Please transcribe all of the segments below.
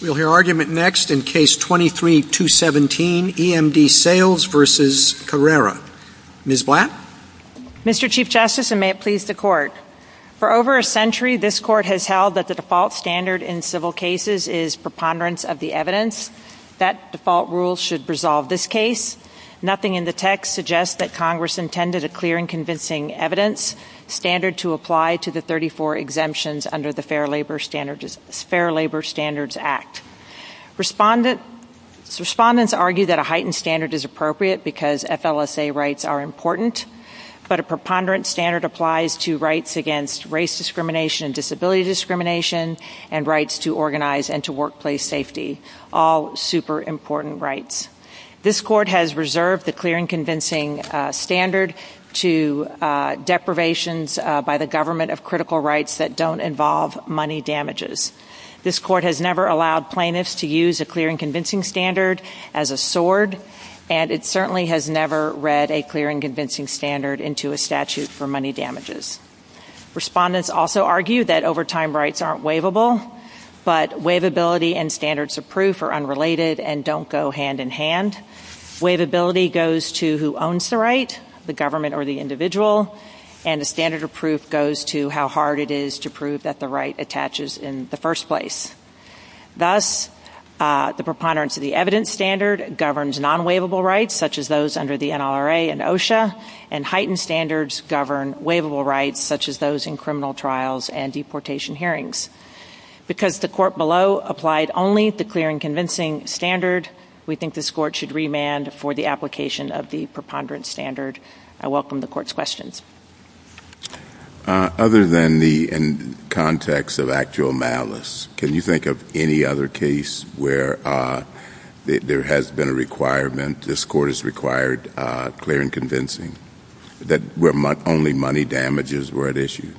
We'll hear argument next in Case 23-217, E.M.D. Sales v. Carrera. Ms. Blatt? Mr. Chief Justice, and may it please the Court, for over a century this Court has held that the default standard in civil cases is preponderance of the evidence. That default rule should resolve this case. Nothing in the text suggests that Congress intended a clear and convincing evidence standard to apply to the 34 exemptions under the Fair Labor Standards Act. Respondents argue that a heightened standard is appropriate because FLSA rights are important, but a preponderance standard applies to rights against race discrimination, disability discrimination, and rights to organize and to workplace safety, all super important rights. This Court has reserved the clear and convincing standard to deprivations by the government of critical rights that don't involve money damages. This Court has never allowed plaintiffs to use a clear and convincing standard as a sword, and it certainly has never read a clear and convincing standard into a statute for money damages. Respondents also argue that overtime rights aren't waivable, but waivability and standards of proof are unrelated and don't go hand in hand. Waivability goes to who owns the right, the government or the individual, and a standard of proof goes to how hard it is to prove that the right attaches in the first place. Thus, the preponderance of the evidence standard governs non-waivable rights, such as those under the NLRA and OSHA, and heightened standards govern waivable rights, such as those in criminal trials and deportation hearings. Because the Court below applied only the clear and convincing standard, we believe this Court should remand for the application of the preponderance standard. I welcome the Court's questions. Other than the context of actual malice, can you think of any other case where there has been a requirement, this Court has required clear and convincing, where only money damages were at issue?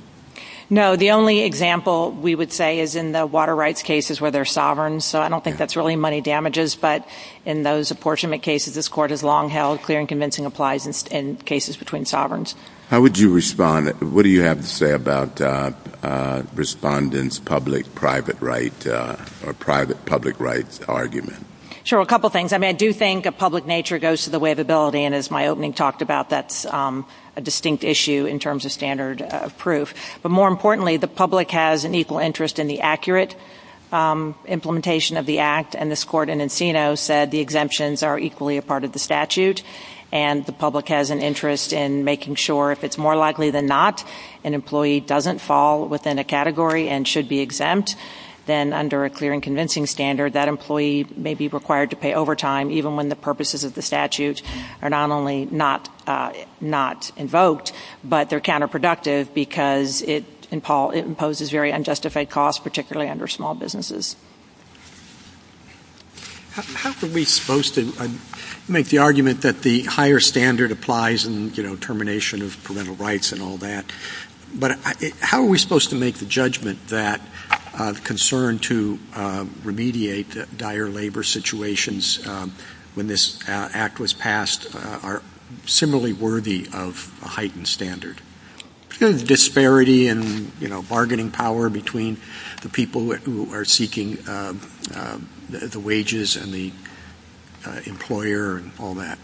No, the only example we would say is in the water rights cases where they're sovereign, so I don't think that's really money damages, but in those apportionment cases, this Court has long held clear and convincing applies in cases between sovereigns. How would you respond? What do you have to say about respondents' public-private rights argument? Sure, a couple things. I do think a public nature goes to the waivability, and as my opening talked about, that's a distinct issue in terms of standard of proof. But more importantly, the public has an equal interest in the accurate implementation of the Act, and this Court in Encino said the exemptions are equally a part of the statute, and the public has an interest in making sure if it's more likely than not an employee doesn't fall within a category and should be exempt, then under a clear and convincing standard, that employee may be required to pay overtime, even when the purposes of the statute are not only not invoked, but they're counterproductive because it imposes very unjustified costs, particularly under small businesses. How are we supposed to make the argument that the higher standard applies in termination of parental rights and all that, but how are we supposed to make the judgment that concern to remediate the dire labor situations when this Act was passed are similarly worthy of a heightened standard? The disparity in bargaining power between the people who are seeking the wages and the employer and all that.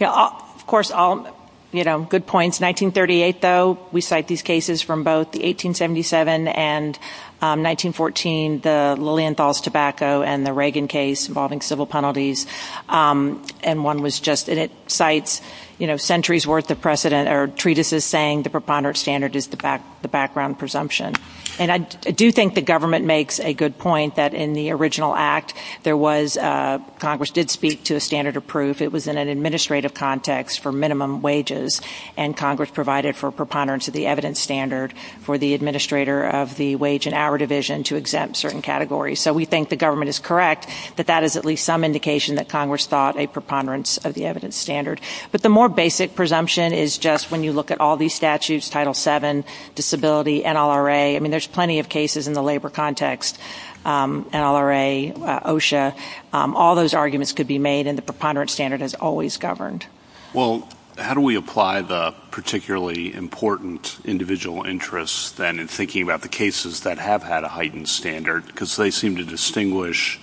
Of course, good points. 1938, though, we cite these cases from both the 1877 and 1914, the Lilienthal's tobacco and the Reagan case involving civil penalties, and one was just, and it cites, you know, centuries worth of precedent or treatises saying the preponderance standard is the background presumption. And I do think the government makes a good point that in the original Act, there was, Congress did speak to a standard of proof. It was in an administrative context for minimum wages, and Congress provided for preponderance of the evidence standard for the administrator of the wage and hour division to exempt certain categories. So we think the government is correct that that is at least some indication that Congress thought a preponderance of the evidence standard. But the more basic presumption is just when you look at all these statutes, Title VII, disability, NLRA, I mean, there's plenty of cases in the labor context, NLRA, OSHA, all those arguments could be made, and the preponderance standard has always governed. Well, how do we apply the particularly important individual interests, then, in thinking about the cases that have had a heightened standard? Because they seem to distinguish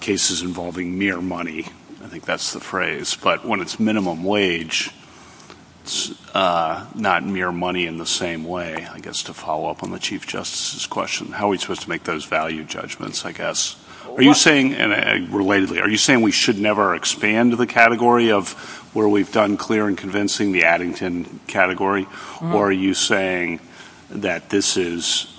cases involving mere money. I think that's the phrase. But when it's minimum wage, it's not mere money in the same way, I guess, to follow up on the Chief Justice's question. How are we supposed to make those value judgments, I guess? Are you saying, and relatedly, are you saying we should never expand the category of where we've done clear and convincing, the Addington category? Or are you saying that this is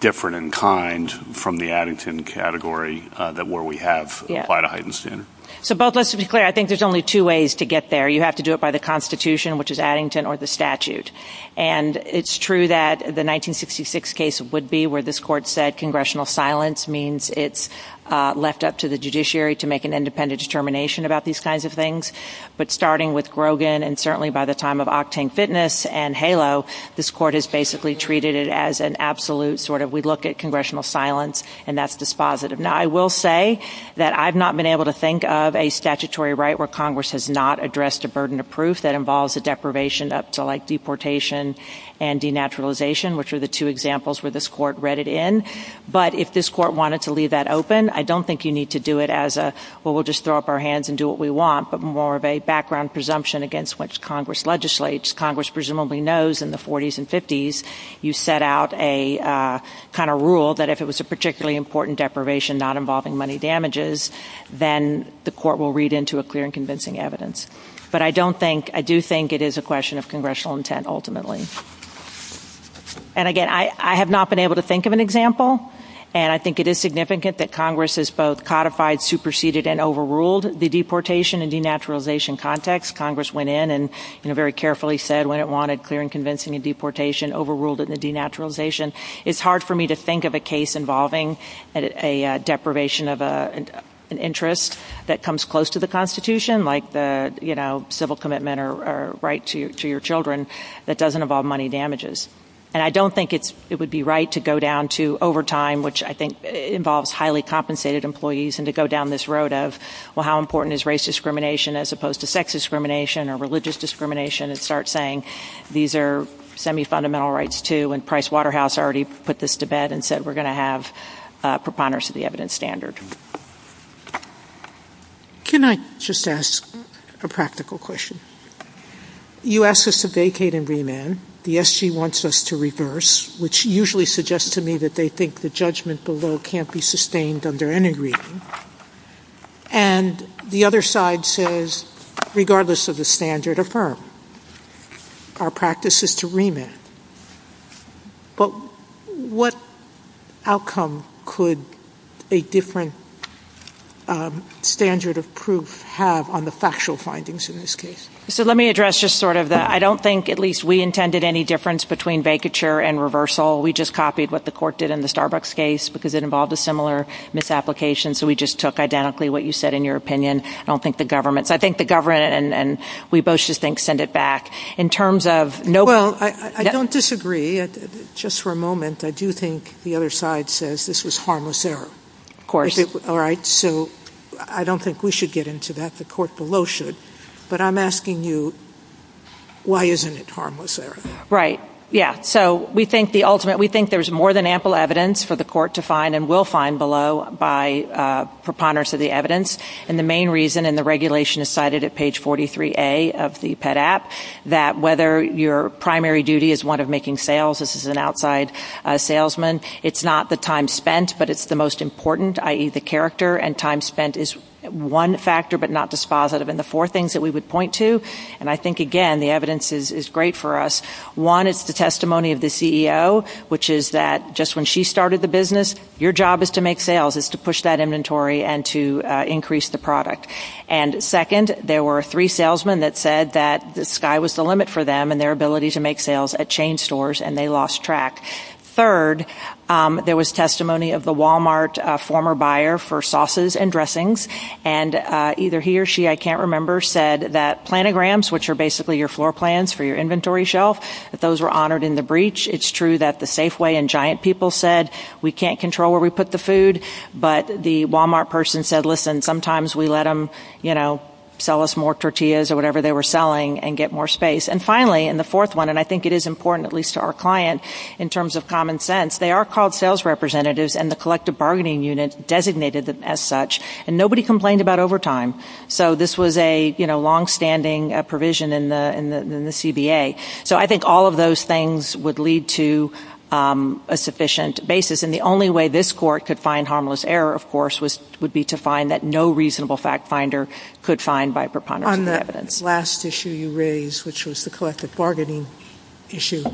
different in kind from the Addington category where we have applied a heightened standard? So both, let's be clear. I think there's only two ways to get there. You have to do it by the Constitution, which is Addington, or the statute. And it's true that the 1966 case would be where this Court said congressional silence means it's left up to the judiciary to make an independent determination about these kinds of things. But starting with Grogan, and certainly by the time of Octang Fitness and HALO, this Court has basically treated it as an absolute sort of, we look at congressional silence, and that's dispositive. Now, I will say that I've not been able to think of a statutory right where Congress has not addressed a burden of proof that involves a deprivation up to, like, deportation and denaturalization, which are the two examples where this Court read it in. But if this Court wanted to leave that open, I don't think you need to do it as a, well, we'll just throw up our hands and do what we want, but more of a background presumption against which Congress legislates. Congress presumably knows in the 40s and 50s you set out a kind of rule that if it was a particularly important deprivation not involving money damages, then the Court will read into a clear and convincing evidence. But I don't think, I do think it is a question of congressional intent ultimately. And again, I have not been able to think of an example, and I think it is significant that Congress has both codified, superseded, and overruled the deportation and denaturalization context. Congress went in and, you know, very carefully said when it wanted clear and convincing and deportation, overruled it in the denaturalization. It's hard for me to think of a case involving a deprivation of an interest that comes close to the Constitution, like the, you know, civil commitment or right to your children that doesn't involve money damages. And I don't think it's, it would be right to go down to overtime, which I think involves highly compensated employees, and to go down this road of, well, how important is race discrimination as opposed to sex discrimination or religious discrimination and start saying these are semi-fundamental rights too, and Price Waterhouse already put this to bed and said we're going to have preponderance of the evidence standard. Can I just ask a practical question? You ask us to vacate and remand. The SG wants us to reverse, which usually suggests to me that they think the judgment below can't be sustained under any reading. And the other side says regardless of the standard, affirm. Our practice is to remand. But what outcome could a different standard of proof have on the factual findings in this case? So let me address just sort of the, I don't think at least we intended any difference between vacature and reversal. We just copied what the court did in the Starbucks case because it involved a similar misapplication. So we just took identically what you said in your opinion. I don't think the government, so I think the government and we both just think send it back. In terms of no- Well, I don't disagree. Just for a moment, I do think the other side says this was harmless error. Of course. All right. So I don't think we should get into that. The court below should. But I'm asking you, why isn't it harmless error? Right. Yeah. So we think the ultimate, we think there's more than ample evidence for the court to find and will find below by preponderance of the evidence. And the main reason and the regulation is cited at page 43A of the PET app, that whether your primary duty is one of making sales, this is an outside salesman. It's not the time spent, but it's the most important, i.e. the character. And time spent is one factor, but not dispositive. And the things that we would point to, and I think again, the evidence is great for us. One, it's the testimony of the CEO, which is that just when she started the business, your job is to make sales, is to push that inventory and to increase the product. And second, there were three salesmen that said that the sky was the limit for them and their ability to make sales at chain stores and they lost track. Third, there was testimony of the Walmart former buyer for sauces and dressings. And either he or she, I can't remember, said that planograms, which are basically your floor plans for your inventory shelf, that those were honored in the breach. It's true that the Safeway and Giant people said, we can't control where we put the food. But the Walmart person said, listen, sometimes we let them, you know, sell us more tortillas or whatever they were selling and get more space. And finally, and the fourth one, and I think it is important, at least to our client, in terms of common sense, they are called sales representatives and the collective bargaining unit designated them as such. And nobody complained about overtime. So this was a, you know, longstanding provision in the CBA. So I think all of those things would lead to a sufficient basis. And the only way this court could find harmless error, of course, would be to find that no reasonable fact finder could find by preponderance of the evidence. On the last issue you raised, which was the collective bargaining issue,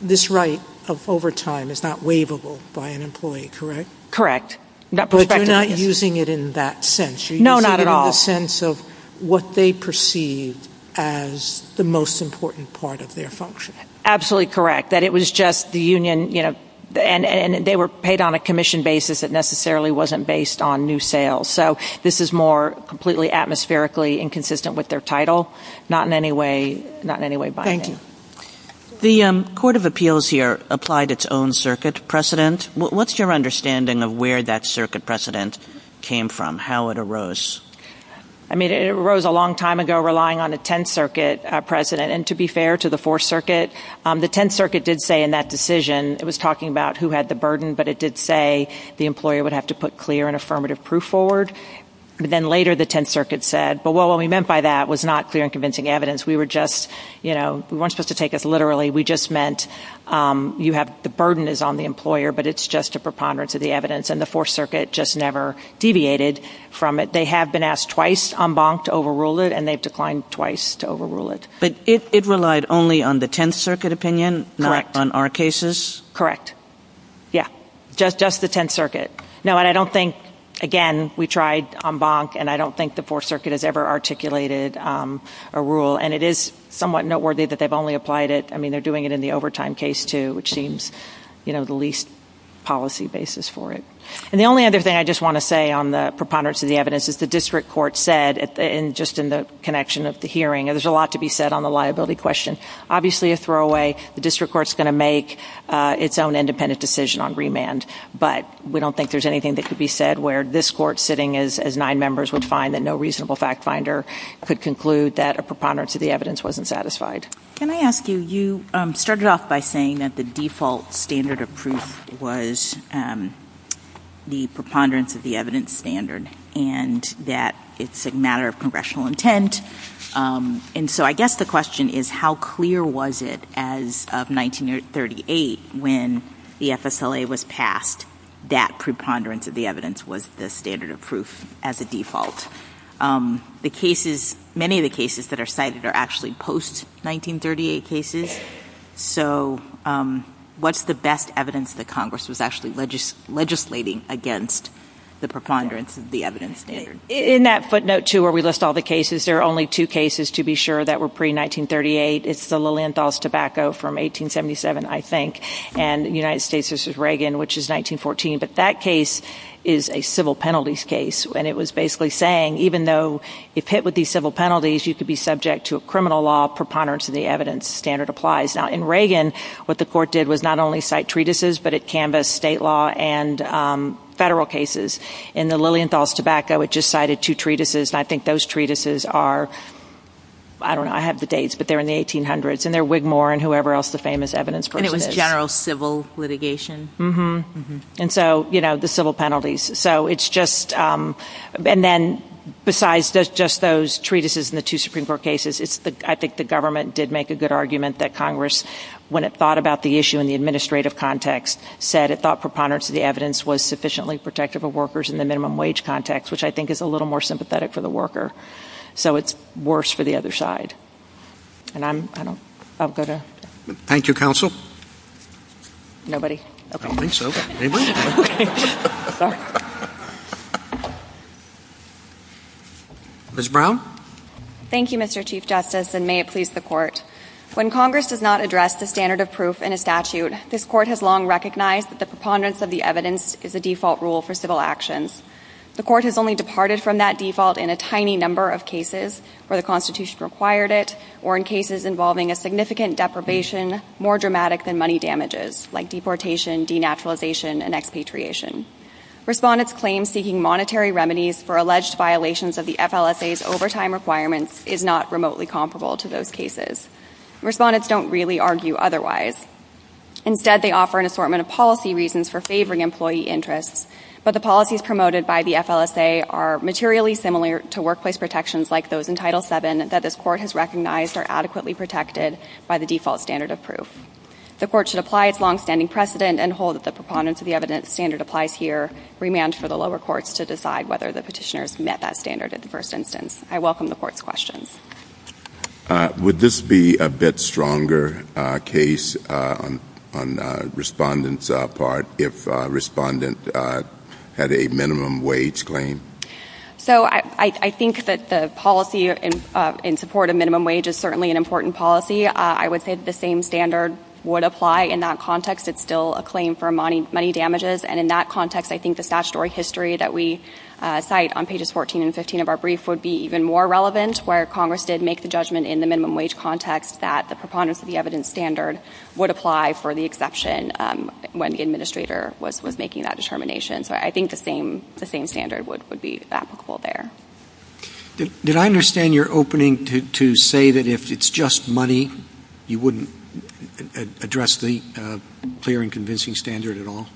this right of overtime is not waivable by an employee, correct? Correct. But you're not using it in that sense. No, not at all. You're using it in the sense of what they perceived as the most important part of their function. Absolutely correct. That it was just the union, you know, and they were paid on a commission basis that necessarily wasn't based on new sales. So this is more completely atmospherically inconsistent with their title. Not in any way, not in any way binding. Thank you. The Court of Appeals here applied its own circuit precedent. What's your understanding of where that circuit precedent came from? How it arose? I mean, it arose a long time ago, relying on a Tenth Circuit precedent. And to be fair to the Fourth Circuit, the Tenth Circuit did say in that decision, it was talking about who had the burden, but it did say the employer would have to put clear and affirmative proof forward. But then later the Tenth Circuit said, but what we meant by that was not clear and convincing evidence. We were just, you know, we weren't supposed to take this literally. We just meant you have, the burden is on the employer, but it's just a preponderance of the evidence. And the Fourth Circuit just never deviated from it. They have been asked twice en banc to overrule it, and they've declined twice to overrule it. But it relied only on the Tenth Circuit opinion, not on our cases? Correct. Yeah. Just the Tenth Circuit. No, and I don't think, again, we tried en banc and I don't think the Fourth Circuit has ever articulated a rule. And it is somewhat noteworthy that they've only applied it, I mean, they're doing it in the overtime case too, which seems, you know, the least policy basis for it. And the only other thing I just want to say on the preponderance of the evidence is the District Court said, just in the connection of the hearing, and there's a lot to be said on the liability question, obviously a throwaway. The District Court's going to make its own independent decision on remand. But we don't think there's anything that could be said where this Court, sitting as nine members, would find that no reasonable fact finder could conclude that a preponderance of the evidence wasn't satisfied. Can I ask you, you started off by saying that the default standard of proof was the preponderance of the evidence standard, and that it's a matter of congressional intent. And so I guess the question is, how clear was it as of 1938 when the FSLA was passed that preponderance of the evidence was the standard of proof as a default? The cases, many of the cases that are cited are actually post-1938 cases. So what's the best evidence that Congress was actually legislating against the preponderance of the evidence standard? In that footnote too, where we list all the cases, there are only two cases, to be sure, that were pre-1938. It's the Lilienthal's tobacco from 1877, I think, and United States versus Reagan, which is 1914. But that case is a civil penalties case. And it was basically saying, even though if hit with these civil penalties, you could be subject to a criminal law, preponderance of the evidence standard applies. Now in Reagan, what the Court did was not only cite treatises, but it canvassed state law and federal cases. In the Lilienthal's tobacco, it just cited two treatises. And I think those treatises are, I don't know, I have the dates, but they're in the 1800s. And they're Wigmore and whoever else the famous evidence person is. General civil litigation. And so, you know, the civil penalties. So it's just, and then besides just those treatises and the two Supreme Court cases, I think the government did make a good argument that Congress, when it thought about the issue in the administrative context, said it thought preponderance of the evidence was sufficiently protective of workers in the minimum wage context, which I think is a little more sympathetic for the worker. So it's worse for the other side. And I'm, I don't, I'll go to. Thank you, Counsel. Nobody. Okay. I don't think so. Maybe. Okay. Sorry. Ms. Brown. Thank you, Mr. Chief Justice, and may it please the Court. When Congress does not address the standard of proof in a statute, this Court has long recognized that the preponderance of the evidence is a default rule for civil actions. The Court has only departed from that default in a tiny number of cases where the Constitution required it or in cases involving a significant deprivation more dramatic than money damages, like deportation, denaturalization, and expatriation. Respondents' claims seeking monetary remedies for alleged violations of the FLSA's overtime requirements is not remotely comparable to those cases. Respondents don't really argue otherwise. Instead, they offer an assortment of policy reasons for favoring employee interests, but the policies promoted by the FLSA are materially similar to workplace protections like those in Title VII that this Court has recognized are adequately protected by the default standard of proof. The Court should apply its longstanding precedent and hold that the preponderance of the evidence standard applies here, remand for the lower courts to decide whether the petitioners met that standard at the first instance. I welcome the Court's questions. Would this be a bit stronger case on Respondent's part if Respondent had a minimum wage claim? So I think that the policy in support of minimum wage is certainly an important policy. I would say that the same standard would apply in that context. It's still a claim for money damages. And in that context, I think the statutory history that we cite on pages 14 and 15 of our brief would be even more relevant, where Congress did make the judgment in the minimum wage context that the preponderance of the evidence standard would apply for the exception when the administrator was making that determination. So I think the same standard would be applicable there. Did I understand your opening to say that if it's just money, you wouldn't address the clear and convincing standard at all?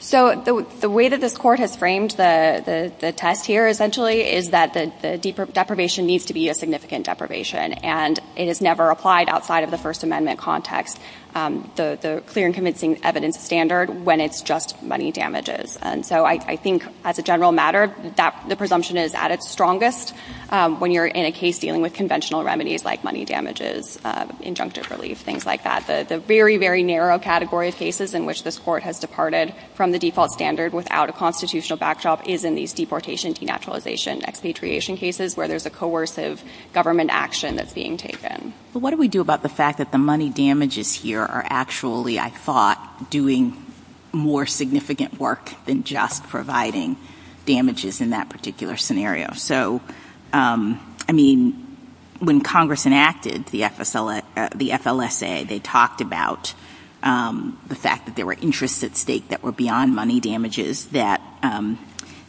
So the way that this Court has framed the test here, essentially, is that the deprivation needs to be a significant deprivation. And it is never applied outside of the First Amendment context, the clear and convincing evidence standard, when it's just money damages. And so I think, as a general matter, the presumption is at its strongest when you're in a case dealing with conventional remedies like money damages, injunctive relief, things like that. The very, very narrow category of cases in which this Court has departed from the default standard without a constitutional backdrop is in these deportation, denaturalization, expatriation cases, where there's a coercive government action that's being taken. But what do we do about the fact that the money damages here are actually, I thought, doing more significant work than just providing damages in that particular scenario? So, I mean, when Congress enacted the FLSA, they talked about the fact that there were interests at stake that were beyond money damages, that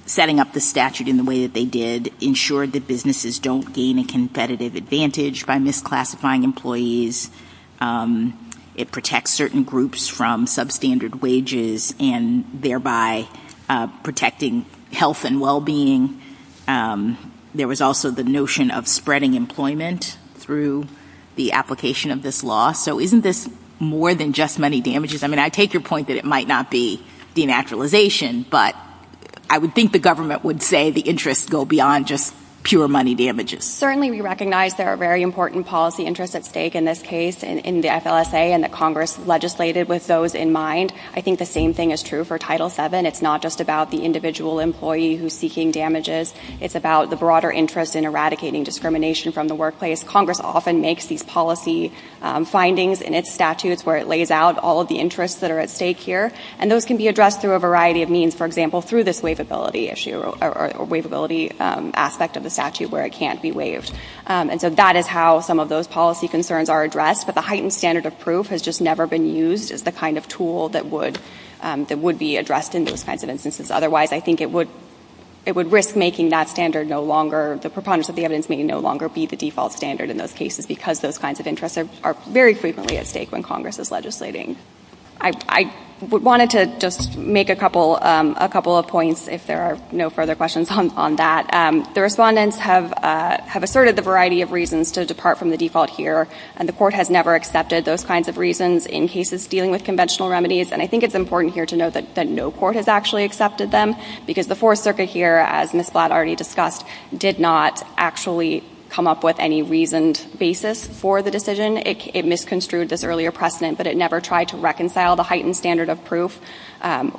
setting up the statute in the way that they did ensured that businesses don't gain a competitive advantage by misclassifying employees. It protects certain groups from substandard wages and thereby protecting health and well-being. There was also the notion of spreading employment through the application of this law. So isn't this more than just money damages? I mean, I take your point that it might not be denaturalization, but I would think the government would say the interests go beyond just pure money damages. Certainly we recognize there are very important policy interests at stake in this case in the FLSA and that Congress legislated with those in mind. I think the same thing is true for Title VII. It's not just about the individual employee who's seeking damages. It's about the broader interest in eradicating discrimination from the workplace. Congress often makes these policy findings in its statutes where it lays out all of the interests that are at stake here. And those can be addressed through a variety of means, for example, through this wavability issue or wavability aspect of the statute where it can't be waived. And so that is how some of those policy concerns are addressed. But the heightened standard of proof has just never been used as the kind of tool that would be addressed in those kinds of instances. Otherwise, I think it would risk making that standard no longer, the preponderance of the evidence may no longer be the default standard in those cases because those kinds of interests are very frequently at stake when Congress is legislating. I wanted to just make a couple of points, if there are no further questions on that. The respondents have asserted the variety of reasons to depart from the default here, and the Court has never accepted those kinds of reasons in cases dealing with conventional remedies. And I think it's important here to note that no court has actually accepted them because the Fourth Circuit here, as Ms. Blatt already discussed, did not actually come up with any reasoned basis for the decision. It misconstrued this earlier precedent, but it never tried to reconcile the heightened standard of proof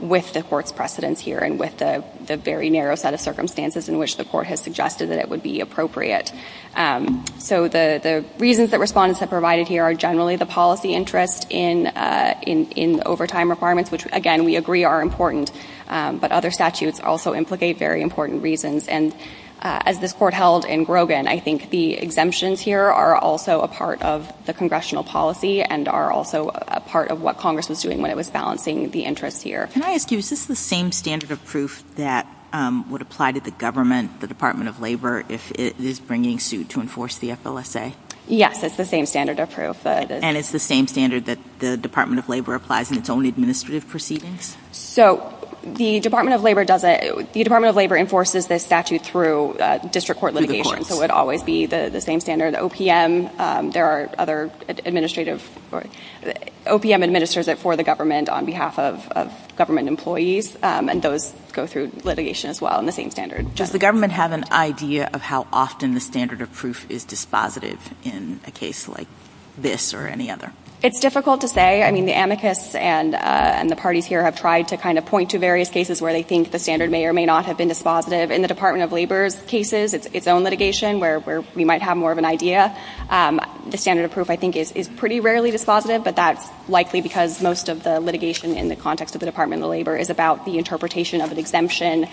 with the Court's precedence here and with the very narrow set of circumstances in which the Court has suggested that it would be appropriate. So the reasons that respondents have provided here are generally the policy interest in overtime requirements, which again, we agree are important, but other statutes also implicate very important reasons. And as this Court held in Grogan, I think the exemptions here are also a part of the Congressional policy and are also a part of what Congress was doing when it was balancing the interests here. Can I ask you, is this the same standard of proof that would apply to the government, the Department of Labor, if it is bringing suit to enforce the FLSA? Yes, it's the same standard of proof. And it's the same standard that the Department of Labor applies in its own administrative proceedings? So the Department of Labor enforces this statute through district court litigation, so it would always be the same standard. The OPM, there are other administrative, OPM administers it for the government on behalf of government employees, and those go through litigation as well in the same standard. Does the government have an idea of how often the standard of proof is dispositive in a case like this or any other? It's difficult to say. I mean, the amicus and the parties here have tried to kind of point to various cases where they think the standard may or may not have been dispositive. In the Department of Labor's cases, its own litigation, where we might have more of an idea, the standard of proof I think is pretty rarely dispositive, but that's likely because most of the litigation in the context of the Department of Labor is about the interpretation of an exemption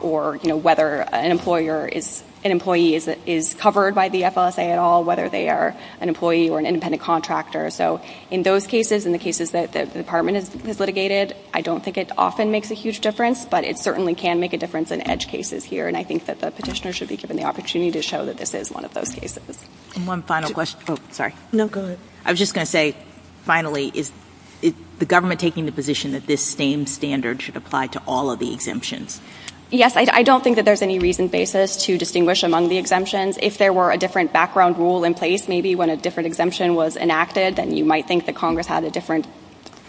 or whether an employee is covered by the FLSA at all, whether they are an employee or an independent contractor. So in those cases, in the cases that the department has litigated, I don't think it often makes a huge difference, but it certainly can make a difference in edge cases here, and I think that the petitioner should be given the opportunity to show that this is one of those cases. One final question. Oh, sorry. No, go ahead. I was just going to say, finally, is the government taking the position that this same standard should apply to all of the exemptions? Yes. I don't think that there's any reason basis to distinguish among the exemptions. If there were a different background rule in place, maybe when a different exemption was enacted, then you might think that Congress had a different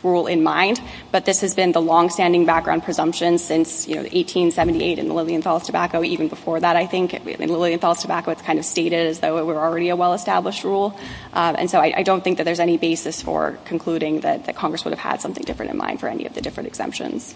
rule in mind, but this has been the long-standing background presumption since 1878 in the Lilienthal's tobacco, even before that, I think. In Lilienthal's tobacco, it's kind of stated as though it were already a well-established rule, and so I don't think that there's any basis for concluding that Congress would have had something different in mind for any of the different exemptions.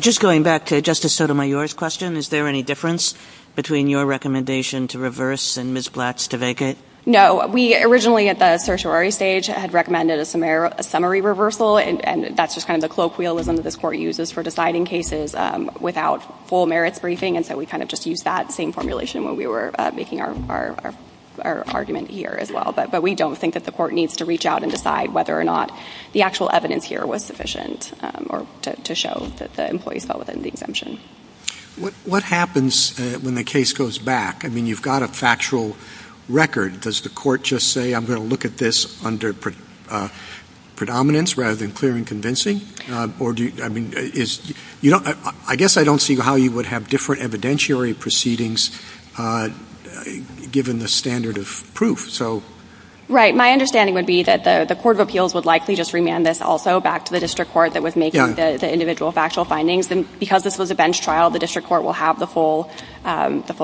Just going back to Justice Sotomayor's question, is there any difference between your recommendation to reverse and Ms. Blatt's to vacate? No. We originally, at the certiorari stage, had recommended a summary reversal, and that's just kind of the colloquialism that this Court uses for deciding cases without full merits briefing, and so we kind of just used that same formulation when we were making our argument here as well. But we don't think that the Court needs to reach out and decide whether or not the actual evidence here was sufficient to show that the employees fell within the exemption. What happens when the case goes back? I mean, you've got a factual record. Does the Court just say, I'm going to look at this under predominance rather than clear and convincing? I guess I don't see how you would have different evidentiary proceedings given the standard of proof. Right. My understanding would be that the Court of Appeals would likely just remand this also back to the District Court that was making the individual factual findings, and because this was a bench trial, the District Court will have the full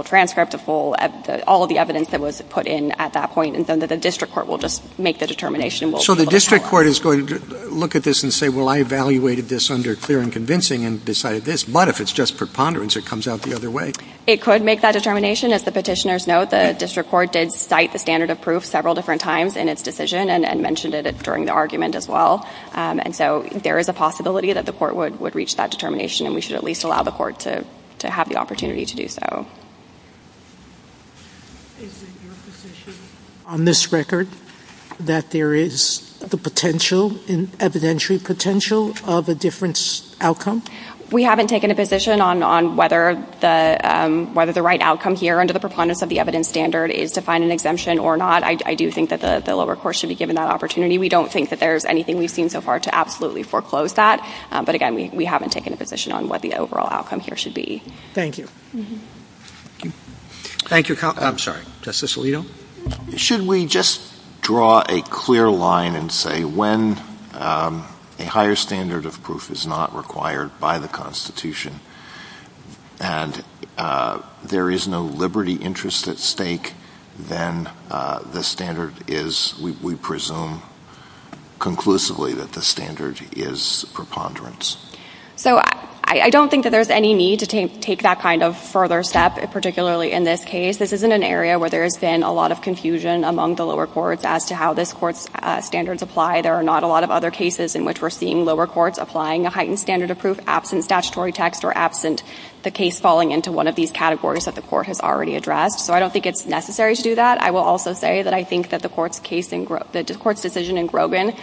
transcript, all of the evidence that was put in at that point, and then the District Court will just make the determination. So the District Court is going to look at this and say, well, I evaluated this under clear and convincing and decided this, but if it's just preponderance, it comes out the other way. It could make that determination. As the petitioners note, the District Court did cite the standard of proof several different times in its decision and mentioned it during the argument as well. And so there is a possibility that the Court would reach that determination, and we should at least allow the Court to have the opportunity to do so. Is it your position on this record that there is the potential, evidentiary potential, of a different outcome? We haven't taken a position on whether the right outcome here under the preponderance of the evidence standard is to find an exemption or not. I do think that the lower court should be given that opportunity. We don't think that there's anything we've seen so far to absolutely foreclose that, but again, we haven't taken a position on what the overall outcome here should be. Thank you. Thank you. I'm sorry. Justice Alito? Should we just draw a clear line and say when a higher standard of proof is not required by the Constitution and there is no liberty interest at stake, then the standard is, we presume conclusively, that the standard is preponderance? So I don't think that there's any need to take that kind of further step, particularly in this case. This isn't an area where there's been a lot of confusion among the lower courts as to how this Court's standards apply. There are not a lot of other cases in which we're seeing lower courts applying a heightened standard of proof absent statutory text or absent the case falling into one of these categories that the Court has already addressed. So I don't think it's necessary to do that. I will also say that I think that the Court's decision in Grogan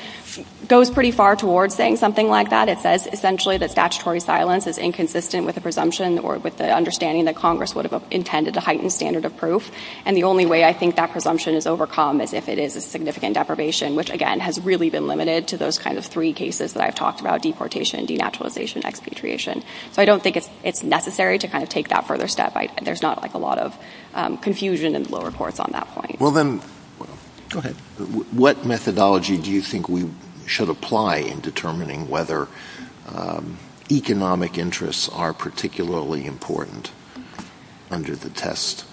goes pretty far towards saying something like that. It says essentially that statutory silence is inconsistent with the presumption or with the understanding that Congress would have intended a heightened standard of proof. And the only way I think that presumption is overcome is if it is a significant deprivation, which again has really been limited to those kind of three cases that I've talked about, deportation, denaturalization, and expatriation. So I don't think it's necessary to kind of take that further step. There's not like a lot of confusion in the lower courts on that point. Well, then, go ahead. What methodology do you think we should apply in determining whether economic interests are particularly important under the test?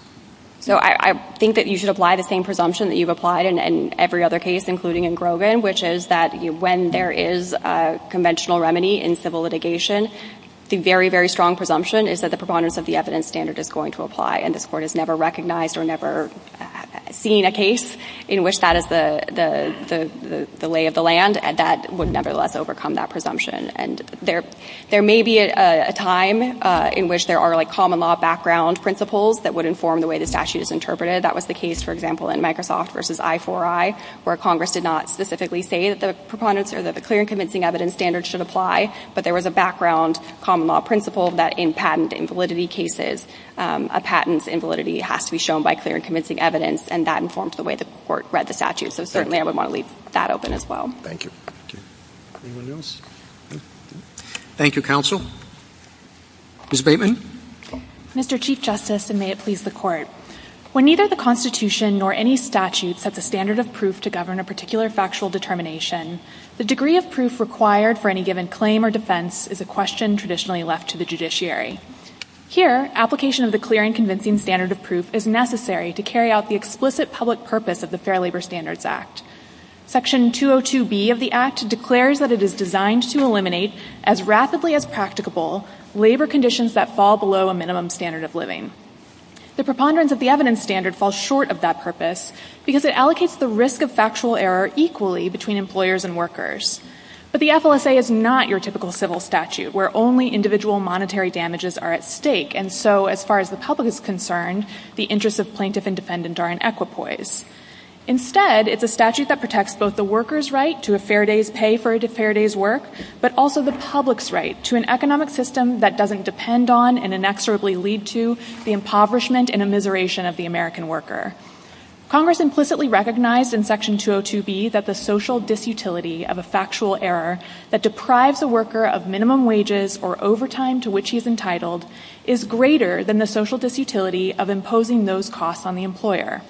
So I think that you should apply the same presumption that you've applied in every other case, including in Grogan, which is that when there is a conventional remedy in civil litigation, the very, very strong presumption is that the preponderance of the evidence standard is going to apply. And this Court has never recognized or never seen a case in which that is the lay of the land. And that would nevertheless overcome that presumption. And there may be a time in which there are like common law background principles that would inform the way the statute is interpreted. That was the case, for example, in Microsoft v. I4I, where Congress did not specifically say that the preponderance or that the clear and convincing evidence standard should apply, but there was a background common law principle that in patent invalidity cases, a patent's invalidity has to be shown by clear and convincing evidence, and that informed the way the Court read the statute. So certainly, I would want to leave that open as well. Thank you. Anyone else? Thank you, counsel. Ms. Bateman. Mr. Chief Justice, and may it please the Court. When neither the Constitution nor any statute sets a standard of proof to govern a particular factual determination, the degree of proof required for any given claim or defense is a question traditionally left to the judiciary. Here, application of the clear and convincing standard of proof is necessary to carry out the explicit public purpose of the Fair Labor Standards Act. Section 202B of the Act declares that it is designed to eliminate, as rapidly as practicable, labor conditions that fall below a minimum standard of living. The preponderance of the evidence standard falls short of that purpose because it allocates the risk of factual error equally between employers and workers. But the FLSA is not your typical civil statute, where only individual monetary damages are at stake, and so, as far as the public is concerned, the interests of plaintiff and defendant are in equipoise. Instead, it's a statute that protects both the worker's right to a fair day's pay for a fair day's work, but also the public's right to an economic system that doesn't depend on and inexorably lead to the impoverishment and immiseration of the American worker. Congress implicitly recognized in Section 202B that the social disutility of a factual error that deprives a worker of minimum wages or overtime to which he is entitled is greater than the social disutility of imposing those costs on the employer.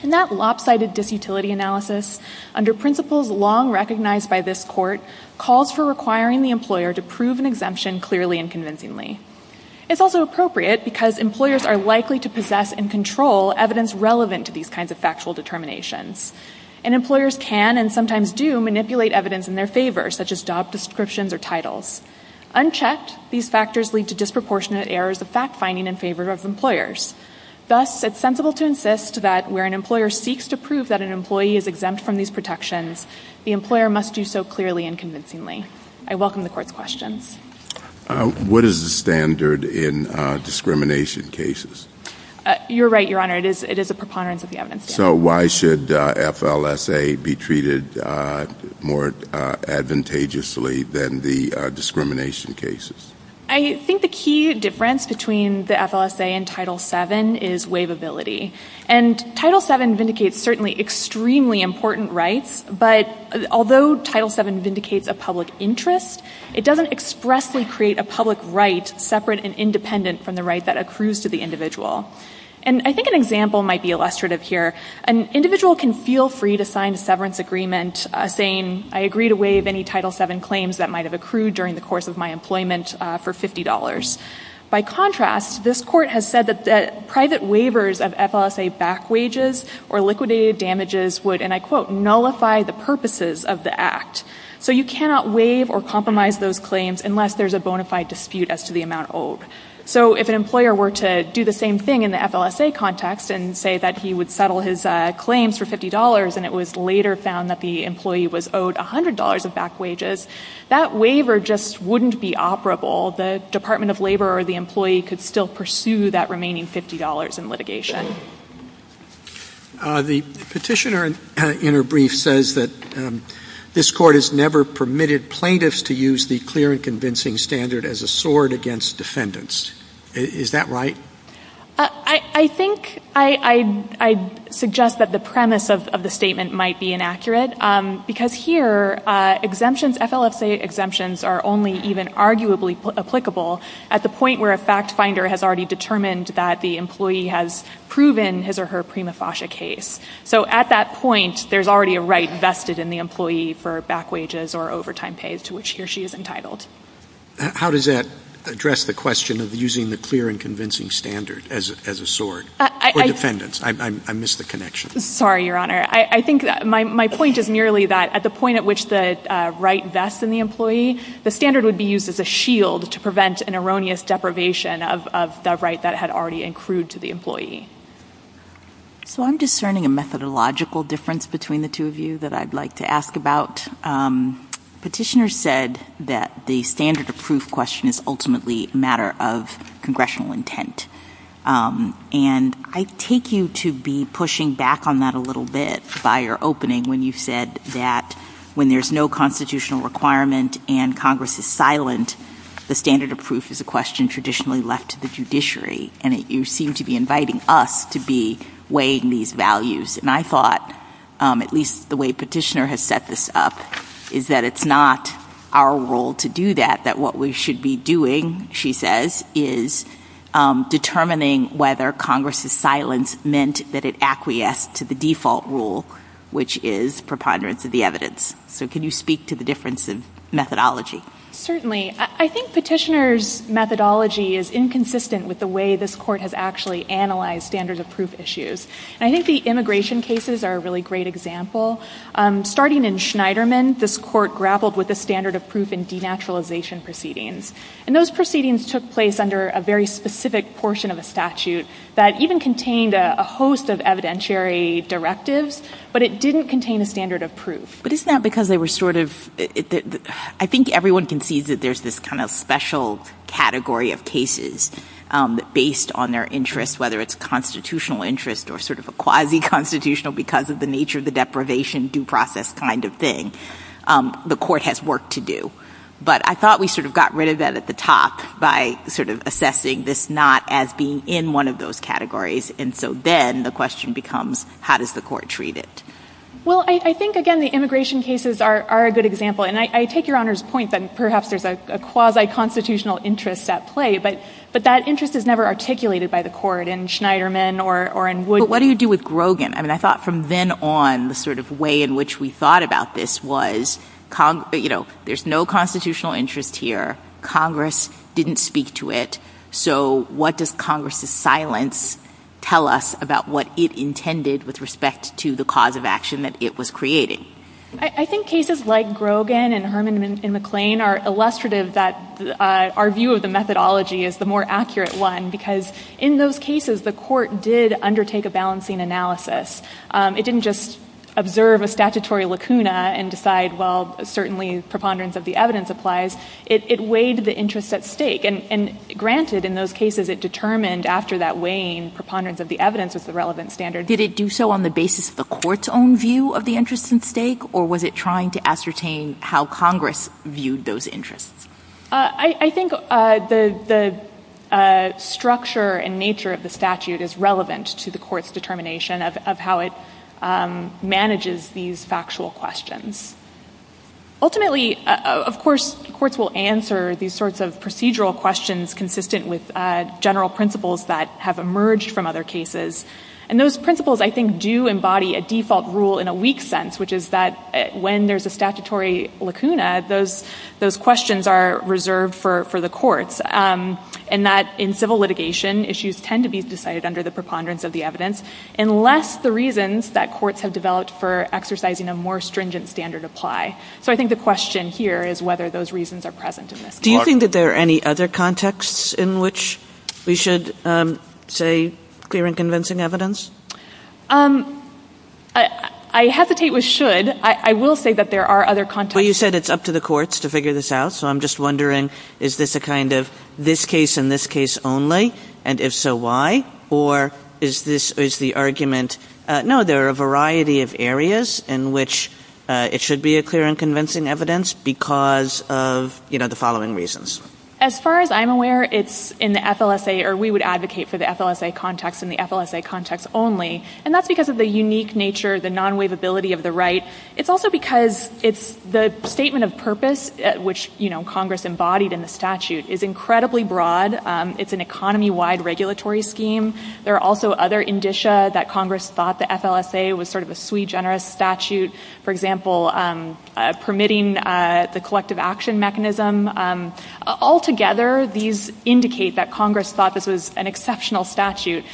And that lopsided disutility analysis, under principles long recognized by this Court, calls for requiring the employer to prove an exemption clearly and convincingly. It's also appropriate because employers are likely to possess and control evidence relevant to these kinds of factual determinations. And employers can and sometimes do manipulate evidence in their favor, such as job descriptions or titles. Unchecked, these factors lead to disproportionate errors of fact-finding in favor of employers. Thus, it's sensible to insist that where an employer seeks to prove that an employee is exempt from these protections, the employer must do so clearly and convincingly. I welcome the Court's questions. What is the standard in discrimination cases? You're right, Your Honor. It is a preponderance of the evidence. So why should FLSA be treated more advantageously than the discrimination cases? I think the key difference between the FLSA and Title VII is waivability. And Title VII vindicates certainly extremely important rights, but although Title VII vindicates a public interest, it doesn't expressly create a public right separate and independent from the right that accrues to the individual. And I think an example might be illustrative here. An individual can feel free to sign a severance agreement saying, I agree to waive any Title VII claims that might have accrued during the course of my employment for $50. By contrast, this Court has said that private waivers of FLSA back wages or liquidated damages would, and I quote, nullify the purposes of the act. So you cannot waive or compromise those claims unless there's a bona fide dispute as to the amount owed. So if an employer were to do the same thing in the FLSA context and say that he would settle his claims for $50 and it was later found that the employee was owed $100 of back wages, that waiver just wouldn't be operable. The Department of Labor or the employee could still pursue that remaining $50 in litigation. The petitioner in her brief says that this Court has never permitted plaintiffs to use the clear and convincing standard as a sword against defendants. Is that right? I think I suggest that the premise of the statement might be inaccurate, because here exemptions, FLSA exemptions are only even arguably applicable at the point where a fact is proven, his or her prima facie case. So at that point, there's already a right vested in the employee for back wages or overtime pay to which he or she is entitled. How does that address the question of using the clear and convincing standard as a sword for defendants? I missed the connection. Sorry, Your Honor. I think my point is merely that at the point at which the right vests in the employee, the standard would be used as a shield to prevent an erroneous deprivation of the right that had already accrued to the employee. So I'm discerning a methodological difference between the two of you that I'd like to ask about. Petitioner said that the standard of proof question is ultimately a matter of congressional intent. And I take you to be pushing back on that a little bit by your opening when you said that when there's no constitutional requirement and Congress is silent, the standard of proof is a question traditionally left to the judiciary. And you seem to be inviting us to be weighing these values. And I thought, at least the way Petitioner has set this up, is that it's not our role to do that, that what we should be doing, she says, is determining whether Congress's silence meant that it acquiesced to the default rule, which is preponderance of the evidence. So can you speak to the difference in methodology? Certainly. I think Petitioner's methodology is inconsistent with the way this court has actually analyzed standards of proof issues. And I think the immigration cases are a really great example. Starting in Schneiderman, this court grappled with the standard of proof in denaturalization proceedings. And those proceedings took place under a very specific portion of a statute that even contained a host of evidentiary directives, but it didn't contain a standard of proof. But isn't that because they were sort of, I think everyone can see that there's this kind of special category of cases based on their interests, whether it's constitutional interest or sort of a quasi-constitutional, because of the nature of the deprivation, due process kind of thing, the court has work to do. But I thought we sort of got rid of that at the top by sort of assessing this not as being in one of those categories. And so then the question becomes, how does the court treat it? Well, I think, again, the immigration cases are a good example. And I take Your Honor's point that perhaps there's a quasi-constitutional interest at play, but that interest is never articulated by the court in Schneiderman or in Wood. But what do you do with Grogan? I mean, I thought from then on, the sort of way in which we thought about this was, you know, there's no constitutional interest here. Congress didn't speak to it. So what does Congress's silence tell us about what it intended with respect to the cause of action that it was creating? I think cases like Grogan and Herman and McClain are illustrative that our view of the methodology is the more accurate one, because in those cases, the court did undertake a balancing analysis. It didn't just observe a statutory lacuna and decide, well, certainly preponderance of the evidence applies. It weighed the interest at stake. And granted, in those cases, it determined after that weighing preponderance of the evidence was the relevant standard. Did it do so on the basis of the court's own view of the interest at stake, or was it trying to ascertain how Congress viewed those interests? I think the structure and nature of the statute is relevant to the court's determination of how it manages these factual questions. Ultimately, of course, courts will answer these sorts of procedural questions consistent with general principles that have emerged from other cases. And those principles, I think, do embody a default rule in a weak sense, which is that when there's a statutory lacuna, those questions are reserved for the courts, and that in civil litigation, issues tend to be decided under the preponderance of the evidence unless the reasons that courts have developed for exercising a more stringent standard apply. So I think the question here is whether those reasons are present in this case. Do you think that there are any other contexts in which we should say clear and convincing evidence? I hesitate with should. I will say that there are other contexts. Well, you said it's up to the courts to figure this out. So I'm just wondering, is this a kind of this case and this case only, and if so, why? Or is this the argument, no, there are a variety of areas in which it should be a clear and convincing evidence because of the following reasons. As far as I'm aware, it's in the FLSA, or we would advocate for the FLSA context and the FLSA context only, and that's because of the unique nature, the non-waivability of the right. It's also because it's the statement of purpose, which Congress embodied in the statute, is incredibly broad. It's an economy-wide regulatory scheme. There are also other indicia that Congress thought the FLSA was sort of a sui generis statute, for example, permitting the collective action mechanism. Altogether, these indicate that Congress thought this was an exceptional statute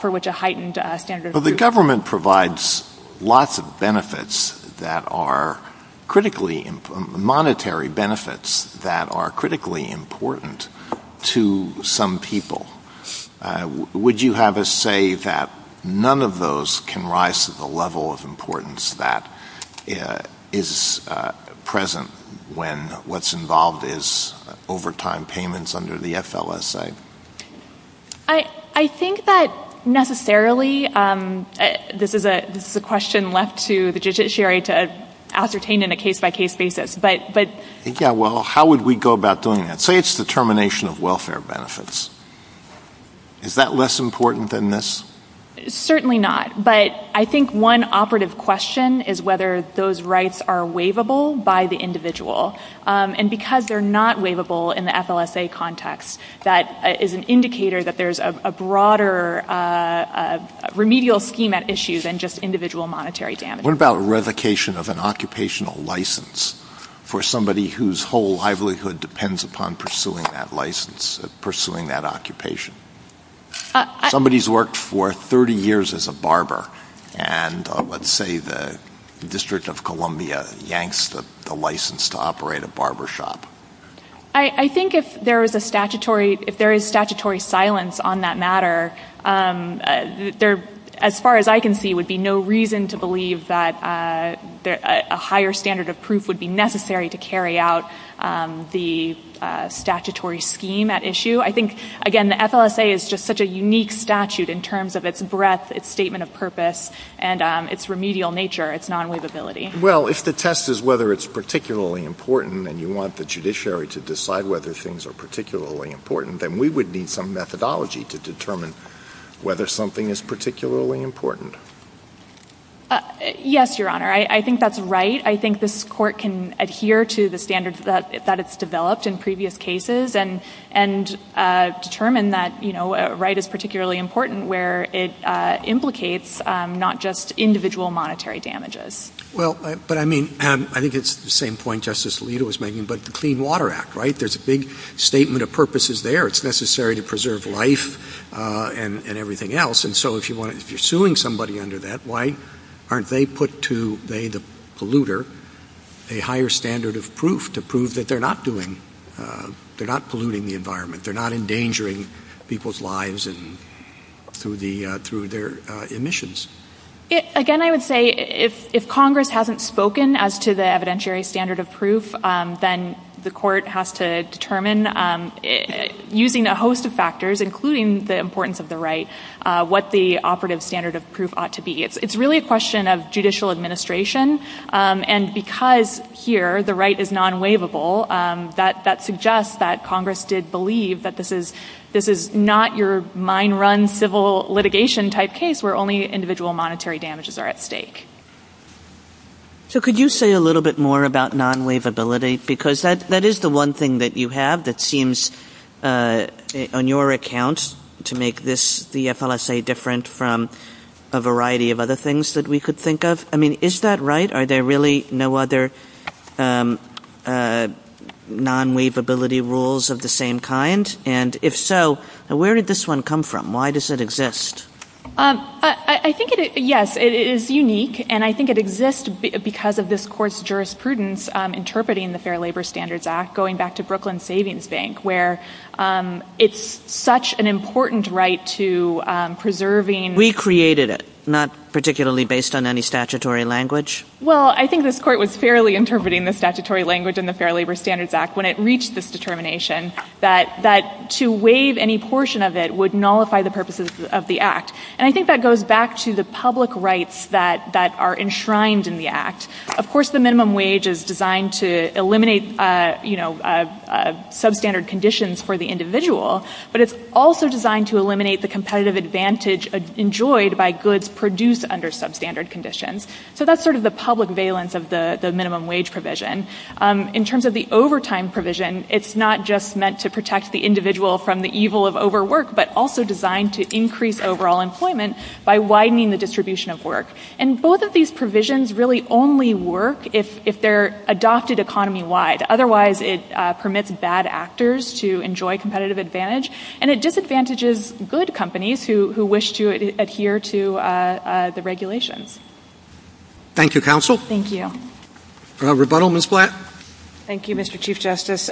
for which a heightened standard of... The government provides lots of benefits that are critically, monetary benefits that are critically important to some people. Would you have us say that none of those can rise to the level of importance that is present when what's involved is overtime payments under the FLSA? I think that necessarily, this is a question left to the judiciary to ascertain in a case by case basis, but... Yeah, well, how would we go about doing that? Say it's the termination of welfare benefits. Is that less important than this? Certainly not. But I think one operative question is whether those rights are waivable by the individual. And because they're not waivable in the FLSA context, that is an indicator that there's a broader remedial scheme at issue than just individual monetary damage. What about revocation of an occupational license for somebody whose whole livelihood depends upon pursuing that license, pursuing that occupation? Somebody's worked for 30 years as a barber, and let's say the District of Columbia yanks the license to operate a barbershop. I think if there is a statutory... If there is statutory silence on that matter, as far as I can see, it would be no reason to believe that a higher standard of proof would be necessary to carry out the statutory scheme at issue. I think, again, the FLSA is just such a unique statute in terms of its breadth, its statement of purpose, and its remedial nature, its non-waivability. Well, if the test is whether it's particularly important and you want the judiciary to decide whether things are particularly important, then we would need some methodology to determine whether something is particularly important. Yes, Your Honor. I think that's right. I think this Court can adhere to the standards that it's developed in previous cases and determine that, you know, a right is particularly important where it implicates not just individual monetary damages. Well, but I mean, I think it's the same point Justice Alito was making about the Clean Water Act, right? There's a big statement of purposes there. It's necessary to preserve life and everything else. And so if you're suing somebody under that, why aren't they put to, they the polluter, a higher standard of proof to prove that they're not doing, they're not polluting the environment, they're not endangering people's lives through their emissions? Again, I would say if Congress hasn't spoken as to the evidentiary standard of proof, then the Court has to determine using a host of factors, including the importance of the right, what the operative standard of proof ought to be. It's really a question of judicial administration. And because here the right is non-waivable, that suggests that Congress did believe that this is not your mine run civil litigation type case where only individual monetary damages are at stake. So could you say a little bit more about non-waivability? Because that is the one thing that you have that seems, on your account, to make this, the FLSA, different from a variety of other things that we could think of. I mean, is that right? Are there really no other non-waivability rules of the same kind? And if so, where did this one come from? Why does it exist? I think it, yes, it is unique. And I think it exists because of this Court's jurisprudence interpreting the Fair Labor Standards Act, going back to Brooklyn Savings Bank, where it's such an important right to preserving... We created it, not particularly based on any statutory language? Well, I think this Court was fairly interpreting the statutory language in the Fair Labor Standards Act when it reached this determination that to waive any portion of it would nullify the purposes of the Act. And I think that goes back to the public rights that are enshrined in the Act. Of course, the minimum wage is designed to eliminate, you know, substandard conditions for the individual, but it's also designed to eliminate the competitive advantage enjoyed by goods produced under substandard conditions. So that's sort of the public valence of the minimum wage provision. In terms of the overtime provision, it's not just meant to protect the individual from the evil of overwork, but also designed to increase overall employment by widening the distribution of work. And both of these provisions really only work if they're adopted economy-wide. Otherwise, it permits bad actors to enjoy competitive advantage, and it disadvantages good companies who wish to adhere to the regulations. Thank you, counsel. Thank you. For a rebuttal, Ms. Blatt. Thank you, Mr. Chief Justice.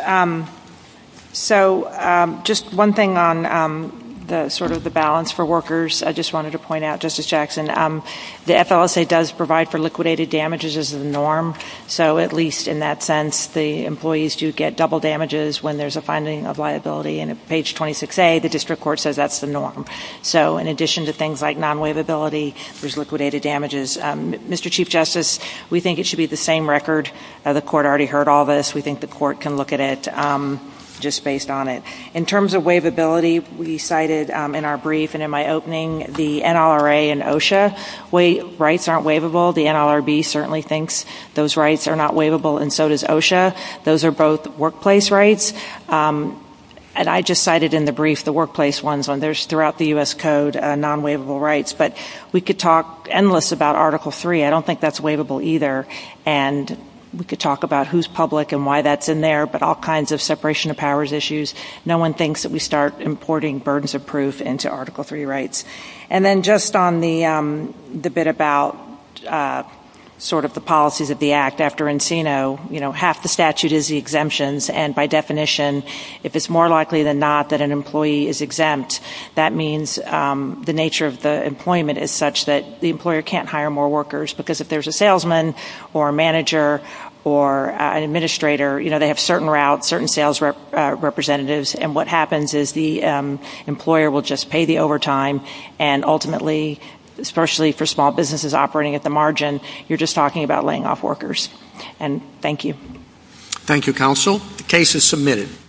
So just one thing on the sort of the balance for workers. I just wanted to point out, Justice Jackson, the FLSA does provide for liquidated damages as the norm. So at least in that sense, the employees do get double damages when there's a finding of liability. And at page 26A, the district court says that's the norm. So in addition to things like non-waivability, there's liquidated damages. Mr. Chief Justice, we think it should be the same record. The court already heard all this. We think the court can look at it just based on it. In terms of waivability, we cited in our brief and in my opening the NLRA and OSHA rights aren't waivable. The NLRB certainly thinks those rights are not waivable, and so does OSHA. Those are both workplace rights. And I just cited in the brief the workplace ones. There's, throughout the U.S. Code, non-waivable rights. But we could talk endless about Article 3. I don't think that's waivable either. And we could talk about who's public and why that's in there. But all kinds of separation of powers issues, no one thinks that we start importing burdens of proof into Article 3 rights. And then just on the bit about sort of the policies of the Act after Encino, you know, half the statute is the exemptions. And by definition, if it's more likely than not that an employee is exempt, that means the nature of the employment is such that the employer can't hire more workers. Because if there's a salesman or a manager or an administrator, you know, they have certain routes, certain sales representatives. And what happens is the employer will just pay the overtime. And ultimately, especially for small businesses operating at the margin, you're just talking about laying off workers. And thank you. Thank you, counsel. The case is submitted.